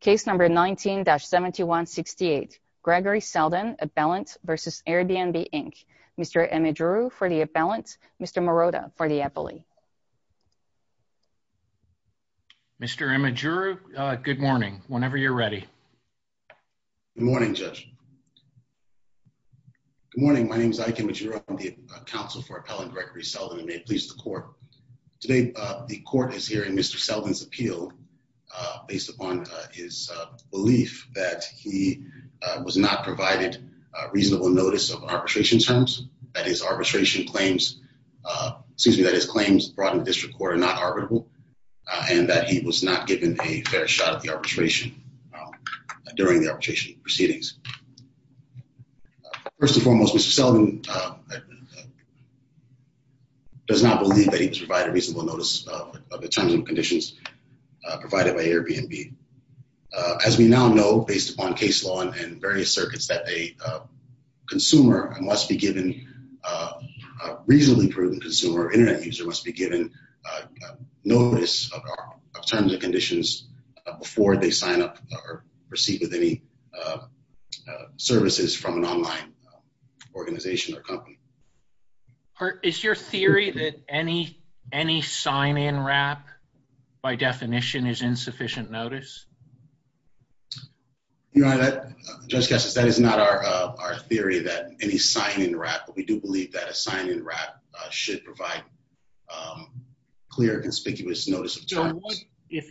Case number 19-7168. Gregory Selden, Appellant v. Airbnb, Inc. Mr. Imadjirou for the appellant, Mr. Morota for the appellee. Mr. Imadjirou, good morning, whenever you're ready. Good morning, Judge. Good morning, my name is Ike Imadjirou, I'm the counsel for Appellant Gregory Selden, and may it please the court. Today the court is hearing Mr. Selden on his belief that he was not provided reasonable notice of arbitration terms, that his arbitration claims, excuse me, that his claims brought in the district court are not arbitrable, and that he was not given a fair shot at the arbitration during the arbitration proceedings. First and foremost, Mr. Selden does not believe that he was provided reasonable notice of the terms and conditions provided by Airbnb. As we now know, based upon case law and various circuits, that a consumer must be given, a reasonably prudent consumer, internet user, must be given notice of terms and conditions before they sign up or proceed with any services from an online organization or company. Is your theory that any sign-in wrap, by definition, is insufficient notice? Your Honor, Judge Kessler, that is not our theory, that any sign-in wrap, but we do believe that a sign-in wrap should provide clear conspicuous notice of terms. So, if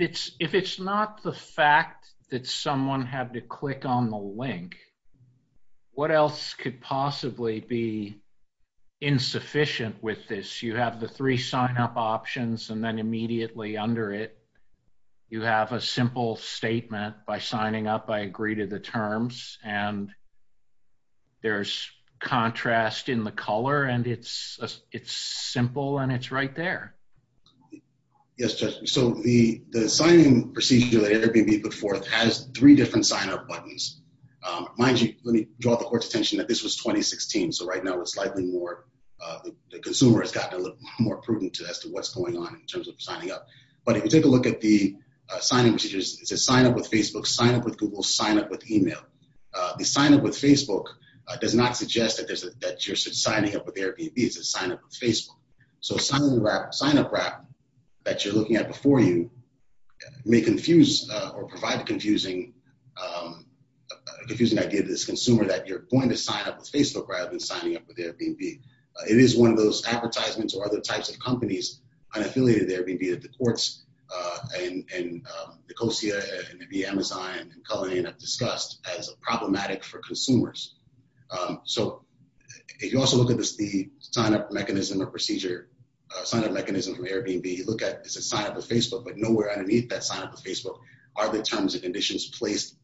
it's not the fact that someone had to click on the link, what else could possibly be insufficient with this? You have the three sign-up options and then immediately under it, you have a simple statement, by signing up I agree to the terms, and there's contrast in the color and it's simple and it's right there. Yes, Judge, so the sign-in procedure that Airbnb put forth has three different sign-up buttons. Mind you, let me draw the Court's attention that this was 2016, so right now it's slightly more, the consumer has gotten a little more prudent as to what's going on in terms of signing up, but if you take a look at the sign-in procedures, it says sign up with Facebook, sign up with Google, sign up with Amazon, it doesn't suggest that you're signing up with Airbnb, it says sign up with Facebook, so sign-in wrap, sign-up wrap, that you're looking at before you may confuse or provide a confusing idea to this consumer that you're going to sign up with Facebook rather than signing up with Airbnb. It is one of those advertisements or other types of companies unaffiliated to Airbnb that the Courts and Nicosia and maybe Amazon and Cullinan have discussed as problematic for consumers. So if you also look at the sign-up mechanism or procedure, sign-up mechanism from Airbnb, you look at, it says sign up with Facebook, but nowhere underneath that sign up with Facebook are the terms and conditions placed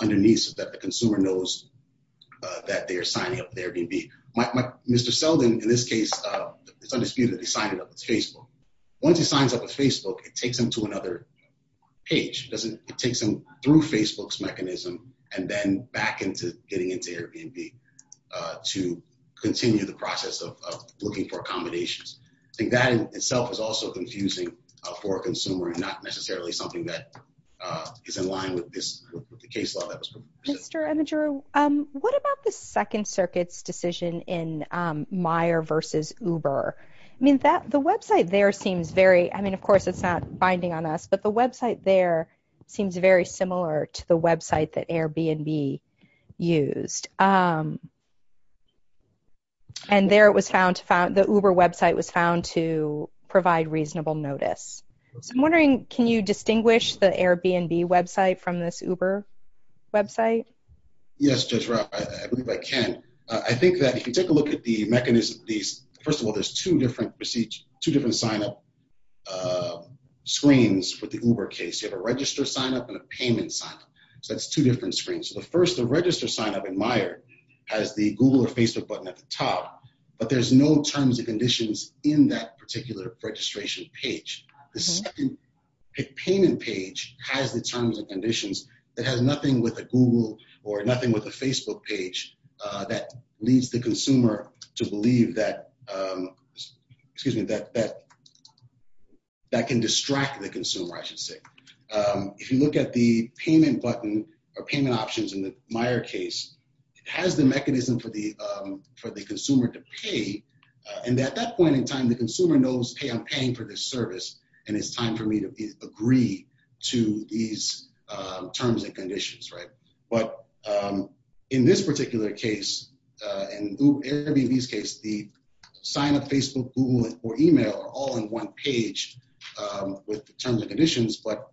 underneath so that the consumer knows that they are signing up with Airbnb. Mr. Selden, in this case, it's undisputed, he signed it up with Facebook. Once he signs up with Facebook, it takes him to another page, it takes him through Facebook's mechanism and then back into getting into Airbnb to continue the process of looking for accommodations. I think that in itself is also confusing for a consumer and not necessarily something that is in line with the case law that was proposed. Mr. Amadouro, what about the Second Circuit's decision in Meijer versus Uber? I mean, the website there seems very, I mean, of course it's not binding on us, but the website there seems very similar to the website that Airbnb used. And there it was found, the Uber website was found to provide reasonable notice. So I'm wondering, can you distinguish the Airbnb website from this Uber website? Yes, Judge Rapp, I believe I can. I think that if you take a look at the mechanism, first of all, there's two different sign-up screens for the Uber case. You have a register sign-up and a payment sign-up. So that's two different screens. So the first, the register sign-up in Meijer has the Google or Facebook button at the top, but there's no terms and conditions in that particular registration page. The second payment page has the terms and conditions that has nothing with a Google or nothing with a Facebook page that leads the consumer to believe that, excuse me, that can distract the consumer, I should say. If you look at the payment button or payment options in the Meijer case, it has the mechanism for the consumer to pay. And at that point in time, the consumer knows, hey, I'm paying for this service, and it's time for me to agree to these terms and conditions, right? But in this particular case, in Airbnb's case, the sign-up, Facebook, Google, or email are all in one page with terms and conditions, but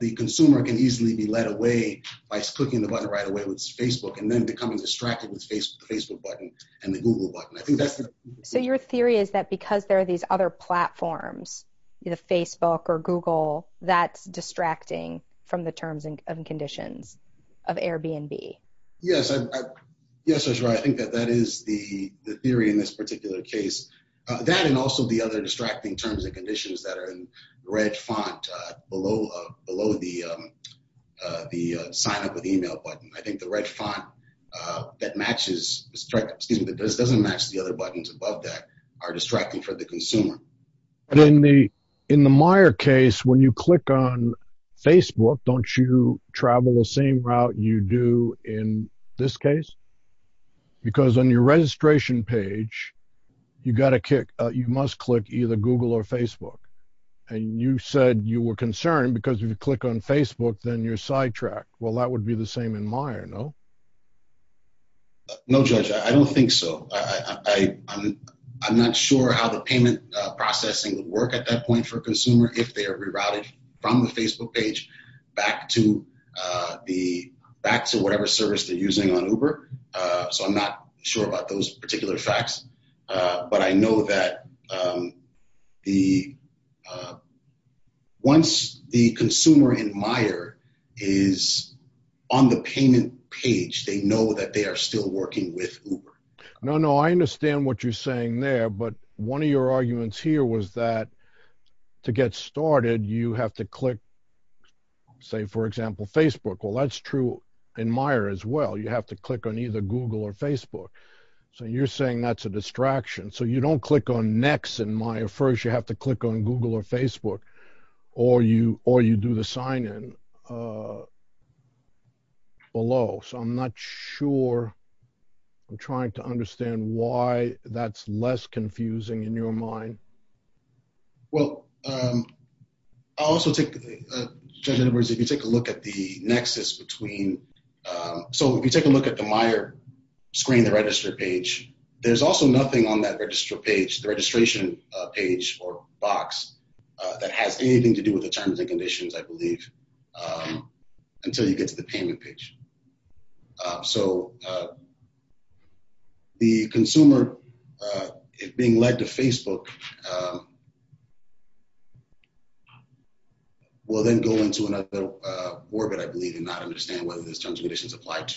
the consumer can easily be led away by clicking the button right away with Facebook and then becoming distracted with the Facebook button and the Google button. So your theory is that because there are these other platforms, either Facebook or Google, that's distracting from the terms and conditions of Airbnb? Yes, that's right. I think that that is the theory in this particular case. That and also the other distracting terms and conditions that are in red font below the sign-up with email button. I think the red font that doesn't match the other buttons above that are distracting for the consumer. And in the Meijer case, when you click on Facebook, don't you travel the same route you do in this case? Because on your registration page, you must click either Google or Facebook. And you said you were concerned because if you click on Facebook, then you're in Meijer, no? No, Judge, I don't think so. I'm not sure how the payment processing would work at that point for consumer if they are rerouted from the Facebook page back to whatever service they're using on Uber. So I'm not sure about those particular facts. But I know that the once the consumer in Meijer is on the payment page, they know that they are still working with Uber. No, no, I understand what you're saying there. But one of your arguments here was that to get started, you have to click, say, for example, Facebook. Well, that's true in Meijer as well. You have to click on either Google or Facebook. So you're saying that's a distraction. So you don't click on next in Meijer. First, you have to click on Google or Facebook, or you do the sign in below. So I'm not sure. I'm trying to understand why that's less confusing in your mind. Well, I also think, Judge Edwards, if you take a look at the nexus between, so if you take a look at the Meijer screen, the register page, there's also nothing on that register page, the registration page or box that has anything to do with the terms and conditions, I believe, until you get to the payment page. So the consumer, if being led to Facebook, will then go into another orbit, I believe, and not understand whether those terms and conditions are related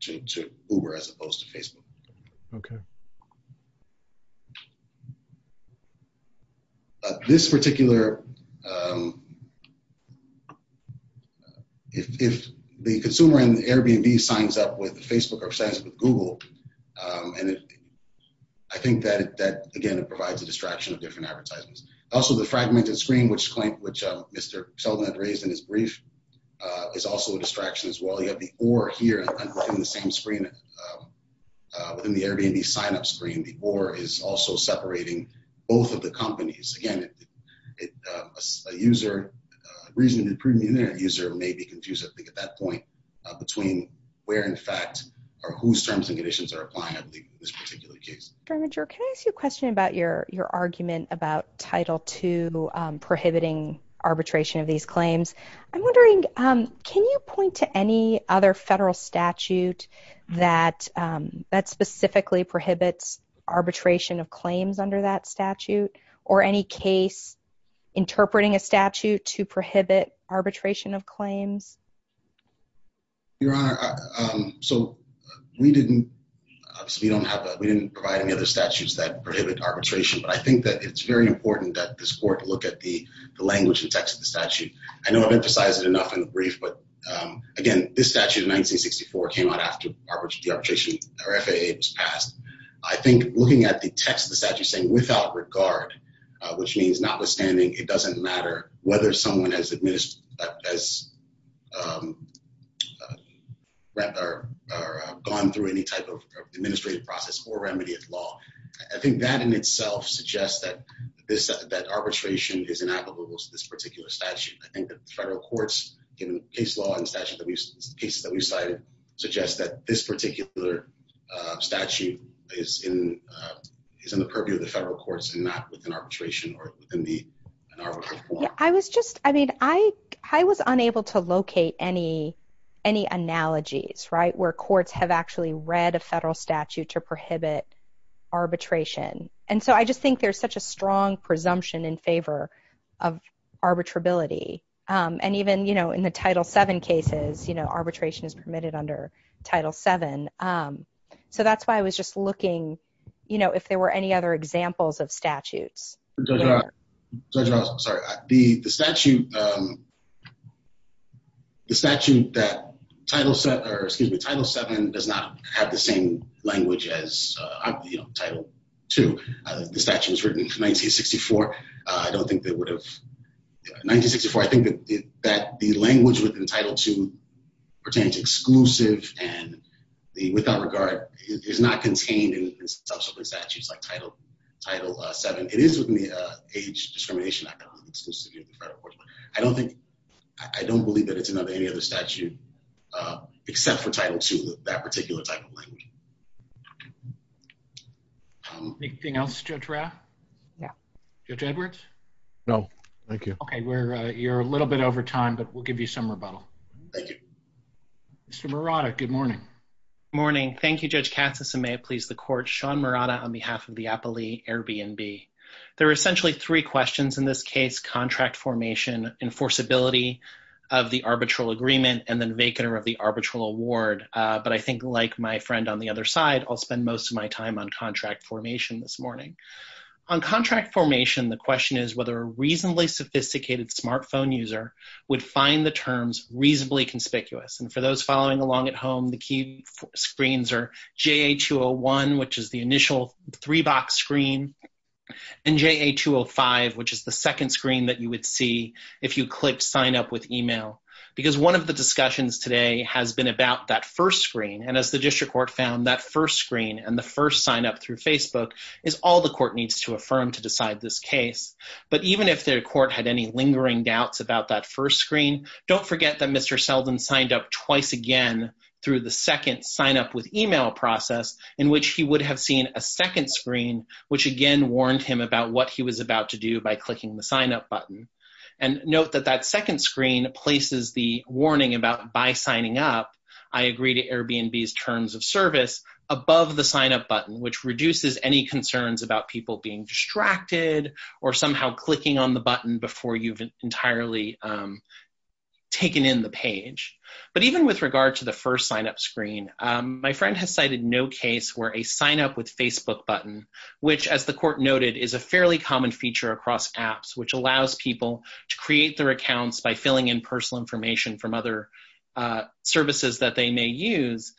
to Facebook. This particular, if the consumer in Airbnb signs up with Facebook or signs up with Google, I think that, again, it provides a distraction of different advertisements. Also, the fragmented screen, which Mr. Sheldon had raised in his brief, is also a distraction as well. You have the or here within the same screen, within the Airbnb sign up screen, the or is also separating both of the companies. Again, a user, a reasonably preeminent user may be confused, I think, at that point between where, in fact, or whose terms and conditions are applying, I believe, in this particular case. Fair Major, can I ask you a question about your argument about Title II prohibiting arbitration of these claims? I'm wondering, can you point to any other federal statute that specifically prohibits arbitration of claims under that statute, or any case interpreting a statute to prohibit arbitration of claims? Your Honor, so we didn't provide any other statutes that prohibit arbitration, but I think that it's very important that this Court look at the language and text of the statute. I know I've been briefed, but again, this statute in 1964 came out after the arbitration or FAA was passed. I think looking at the text of the statute saying, without regard, which means notwithstanding, it doesn't matter whether someone has gone through any type of administrative process or remedied law. I think that in itself suggests that arbitration is inapplicable to this particular statute. I think that the federal courts, in case law and the cases that we've cited, suggest that this particular statute is in the purview of the federal courts and not within arbitration. I was just, I mean, I was unable to locate any analogies, right, where courts have actually read a federal statute to prohibit arbitration. And so I just think there's such a strong presumption in favor of arbitrability. And even, you know, in the Title VII cases, you know, arbitration is permitted under Title VII. So that's why I was just looking, you know, if there were any other examples of statutes. Judge Ross, I'm sorry. The statute that Title VII does not have the same language as, you know, Title II. The statute was written in 1964. I don't think that would have, 1964, I think that the language within Title II pertains exclusive and the without regard is not contained in subsequent statutes like Title VII. It is within the Age Discrimination Act on the exclusivity of the federal courts. I don't think, I don't believe that it's another, any other statute except for Title II, that particular type of language. Anything else, Judge Raff? Yeah. Judge Edwards? No, thank you. Okay, we're, you're a little bit over time, but we'll give you some rebuttal. Thank you. Mr. Murata, good morning. Morning. Thank you, Judge Katsas. And may it please the court, Sean Murata on behalf of the Applea Airbnb. There are essentially three questions in this case, contract formation, enforceability of the arbitral agreement, and then vacant or of the arbitral award. But I think like my friend on the other side, I'll spend most of my time on contract formation this morning. On contract formation, the question is whether a reasonably sophisticated smartphone user would find the terms reasonably conspicuous. And for those following along at home, the key screens are JA-201, which is the initial three box screen, and JA-205, which is the second screen that you would see if you click sign up with email. Because one of the discussions today has been about that first screen. And as the district court found that first screen and the first sign up through Facebook is all the court needs to affirm to decide this case. But even if the court had any lingering doubts about that first screen, don't forget that Mr. Selden signed up twice again through the second sign up with email process in which he would have seen a second screen, which again warned him about what he was about to do by clicking the sign up button. And note that that second screen places the warning about by signing up, I agree to Airbnb's terms of service above the sign up button, which reduces any concerns about people being distracted or somehow clicking on the button before you've entirely taken in the page. But even with regard to the first sign up screen, my friend has cited no case where a sign up with Facebook button, which as the court noted is a fairly common feature across apps, which allows people to create their accounts by filling in personal information from other services that they may use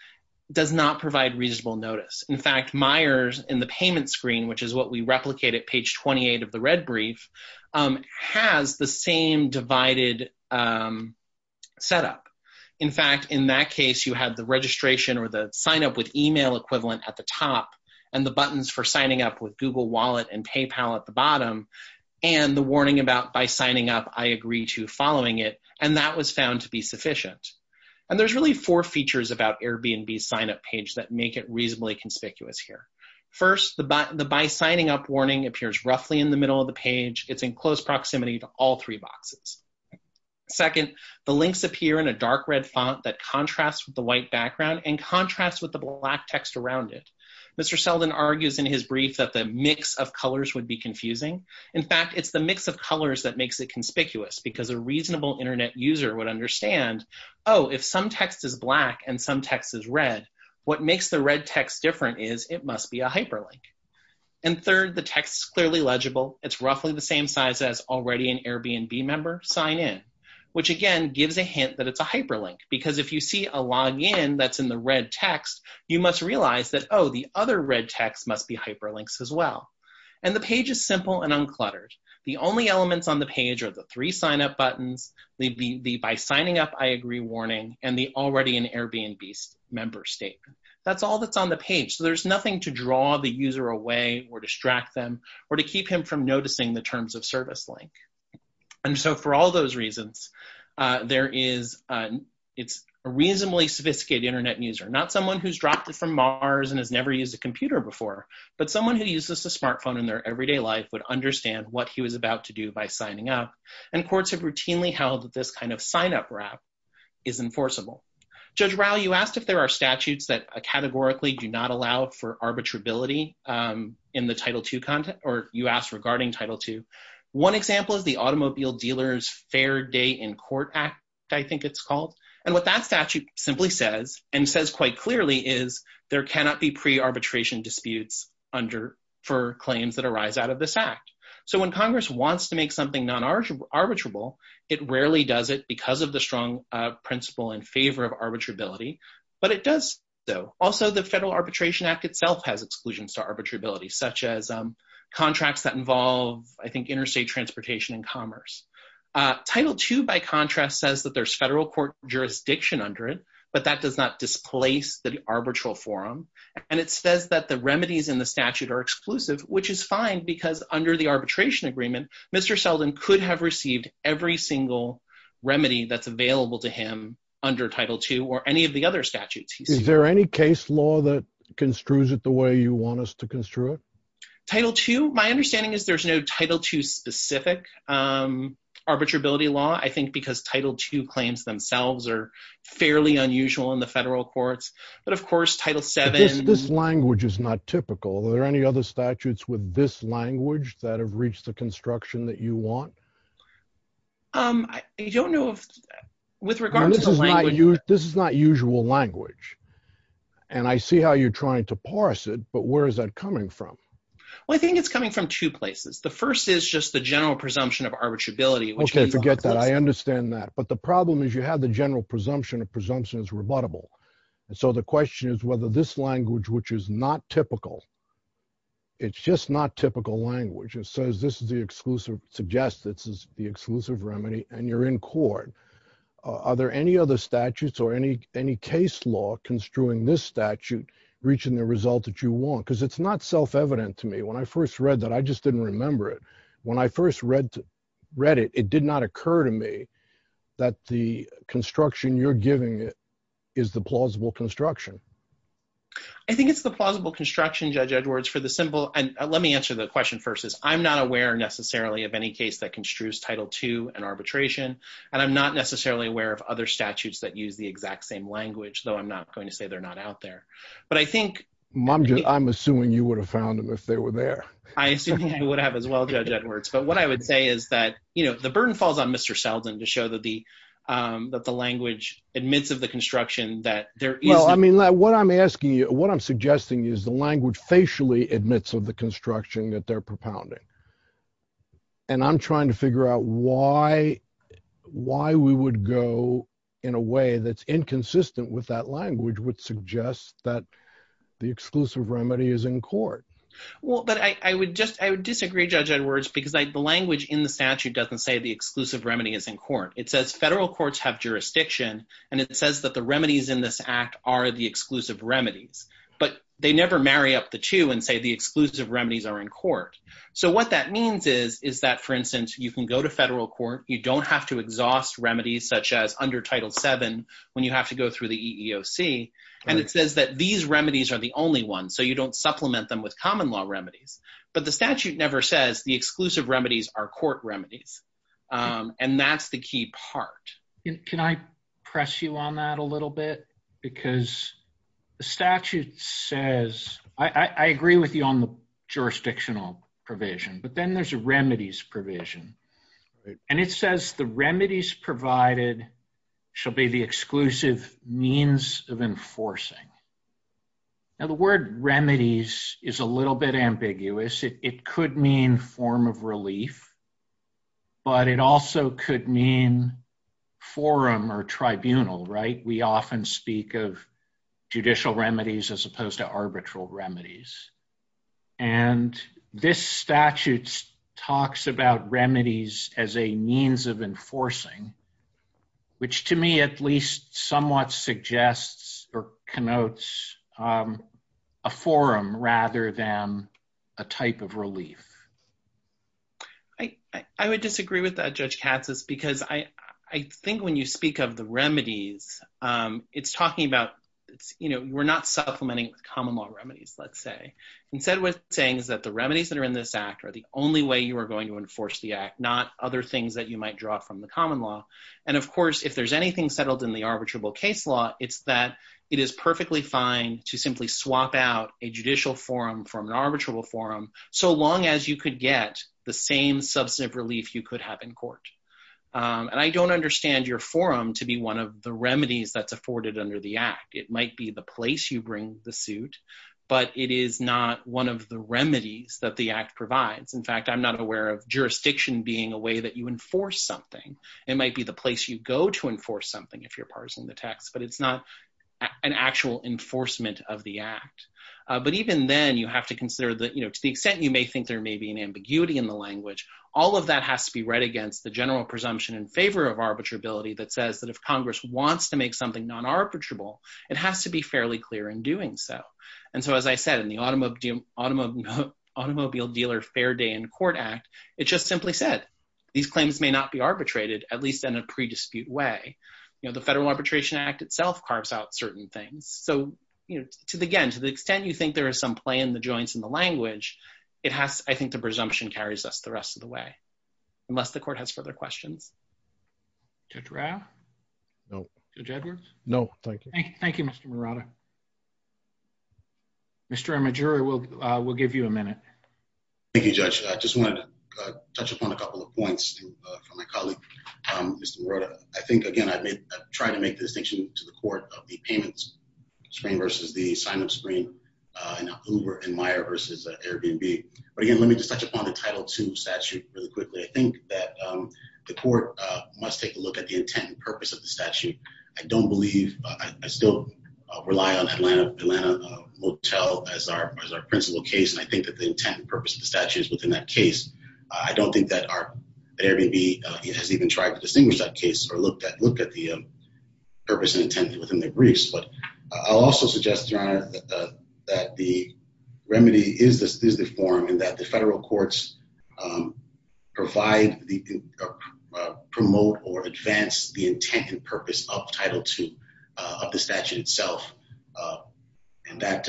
does not provide reasonable notice. In fact, Myers in the payment screen, which is what we replicate at page 28 of the red brief, has the same divided setup. In fact, in that case, you had the registration or the sign up with email equivalent at the top and the buttons for signing up with Google wallet and PayPal at the bottom and the warning about by signing up, I agree to following it. And that was found to be sufficient. And there's really four features about Airbnb sign up page that make it reasonably conspicuous here. First, the by signing up warning appears roughly in the middle of the page. It's in close proximity to all three boxes. Second, the links appear in a dark red font that contrasts the white background and contrast with the black text around it. Mr. Seldon argues in his brief that the mix of colors would be confusing. In fact, it's the mix of colors that makes it conspicuous because a reasonable internet user would understand, oh, if some text is black, and some text is red, what makes the red text different is it must be a hyperlink. And third, the text is clearly legible. It's roughly the same size as already an Airbnb member sign in, which again, gives a hint that it's a hyperlink because if you see a login that's in the red text, you must realize that, oh, the other red text must be hyperlinks as well. And the page is simple and uncluttered. The only elements on the page are the three sign up buttons, the by signing up, I agree warning, and the already an Airbnb member statement. That's all that's on the page. So there's nothing to draw the user away or distract them or to keep him from noticing the terms of those reasons. There is, it's a reasonably sophisticated internet user, not someone who's dropped it from Mars and has never used a computer before. But someone who uses a smartphone in their everyday life would understand what he was about to do by signing up. And courts have routinely held that this kind of sign up wrap is enforceable. Judge Rao, you asked if there are statutes that categorically do not allow for arbitrability in the title two content, or you asked regarding title two. One example is the automobile dealers fair day in court act, I think it's called. And what that statute simply says, and says quite clearly is, there cannot be pre arbitration disputes under for claims that arise out of this act. So when Congress wants to make something arbitrable, it rarely does it because of the strong principle in favor of arbitrability. But it does, though. Also, the Federal Arbitration Act itself has exclusions to arbitrability such as contracts that involve, I think, interstate transportation and commerce. Title two, by contrast, says that there's federal court jurisdiction under it, but that does not displace the arbitral forum. And it says that the remedies in the statute are exclusive, which is fine, because under the arbitration agreement, Mr. Selden could have received every single remedy that's available to him under title two or any of the other statutes. Is there any case law that is, there's no title two specific arbitrability law, I think, because title two claims themselves are fairly unusual in the federal courts. But of course, title seven, this language is not typical. Are there any other statutes with this language that have reached the construction that you want? Um, I don't know, with regard to this is not usual language. And I see how you're trying to parse it. But where is that coming from? Well, I think it's coming from two places. The first is just the general presumption of arbitrability. Okay, forget that. I understand that. But the problem is you have the general presumption of presumption is rebuttable. And so the question is whether this language, which is not typical, it's just not typical language, it says this is the exclusive suggest this is the exclusive remedy and you're in court. Are there any other statutes or any, any case law construing this statute, reaching the result that you want? Because it's not self-evident to me when I first read that, I just didn't remember it. When I first read, read it, it did not occur to me that the construction you're giving is the plausible construction. I think it's the plausible construction judge Edwards for the symbol. And let me answer the question versus I'm not aware necessarily of any case that construes title two and arbitration. And I'm not necessarily aware of other statutes that use the exact same language, though. I'm not going to say they're not out there. But I think mom, I'm assuming you would have found them if they were there. I assume you would have as well, Judge Edwards. But what I would say is that, you know, the burden falls on Mr. Selden to show that the, that the language admits of the construction that there is. Well, I mean, what I'm asking you, what I'm suggesting is the language facially admits of the construction that they're propounding. And I'm trying to figure out why, why we would go in a way that's inconsistent with that language would suggest that the exclusive remedy is in court. Well, but I would just I would disagree, Judge Edwards, because I the language in the statute doesn't say the exclusive remedy is in court. It says federal courts have jurisdiction. And it says that the remedies in this act are the exclusive remedies, but they never marry up the two and say the exclusive remedies are in court. So what that means is, is that, for instance, you can go to federal court, you don't have to And it says that these remedies are the only one, so you don't supplement them with common law remedies. But the statute never says the exclusive remedies are court remedies. And that's the key part. Can I press you on that a little bit? Because the statute says, I agree with you on the jurisdictional provision, but then there's a remedies provision. And it says the remedies provided shall be the exclusive means of enforcing. Now the word remedies is a little bit ambiguous. It could mean form of relief. But it also could mean forum or tribunal, right, we often speak of judicial remedies, as opposed to arbitral remedies. And this statute talks about remedies as a means of enforcing, which to me at least somewhat suggests or connotes a forum rather than a type of relief. I would disagree with that, Judge Katsas, because I think when you speak of the remedies, it's talking about, you know, we're not supplementing common law remedies, let's say. Instead, what it's saying is that the remedies that are in this act are the only way you are going to enforce the act, not other things that you might draw from the common law. And of course, if there's anything settled in the arbitrable case law, it's that it is perfectly fine to simply swap out a judicial forum from an arbitrable forum, so long as you could get the same substantive relief you could have in court. And I don't understand your forum to be one of the remedies that's afforded under the act. It might be the place you bring the suit, but it is not one of the remedies that the act provides. In fact, I'm not aware of jurisdiction being a way that you enforce something. It might be the place you go to enforce something if you're parsing the text, but it's not an actual enforcement of the act. But even then, you have to consider that, you know, to the extent you may think there may be an ambiguity in the language, all of that has to be read against the general presumption in favor of arbitrability that says that if Congress wants to make something non-arbitrable, it has to be fairly clear in doing so. And so, as I said, in the Automobile Dealer Fair Day in Court Act, it just simply said, these claims may not be arbitrated, at least in a pre-dispute way. You know, the Federal Arbitration Act itself carves out certain things. So, you know, again, to the extent you think there is some play in the joints in the language, it has, I think, the presumption carries us the rest of the way, unless the Court has further questions. Judge Rao? No. Judge Edwards? No, thank you. Thank you, Mr. Morata. Mr. Amaduri, we'll give you a minute. Thank you, Judge. I just wanted to touch upon a couple of points from my colleague, Mr. Morata. I think, again, I've tried to make the distinction to the Court of the payments screen versus the sign-up screen in Uber and Airbnb. But again, let me just touch upon the Title II statute really quickly. I think that the Court must take a look at the intent and purpose of the statute. I don't believe, I still rely on Atlanta Motel as our principal case, and I think that the intent and purpose of the statute is within that case. I don't think that Airbnb has even tried to distinguish that case or look at the purpose and intent within the briefs. But I'll also suggest, Your Honor, that the remedy is the form and that the federal courts provide, promote, or advance the intent and purpose of Title II, of the statute itself. And that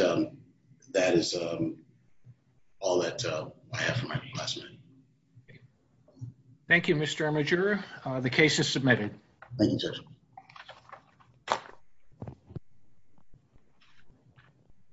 is all that I have for my last minute. Thank you, Mr. Amaduri. The case is submitted. Thank you, Judge. Thank you.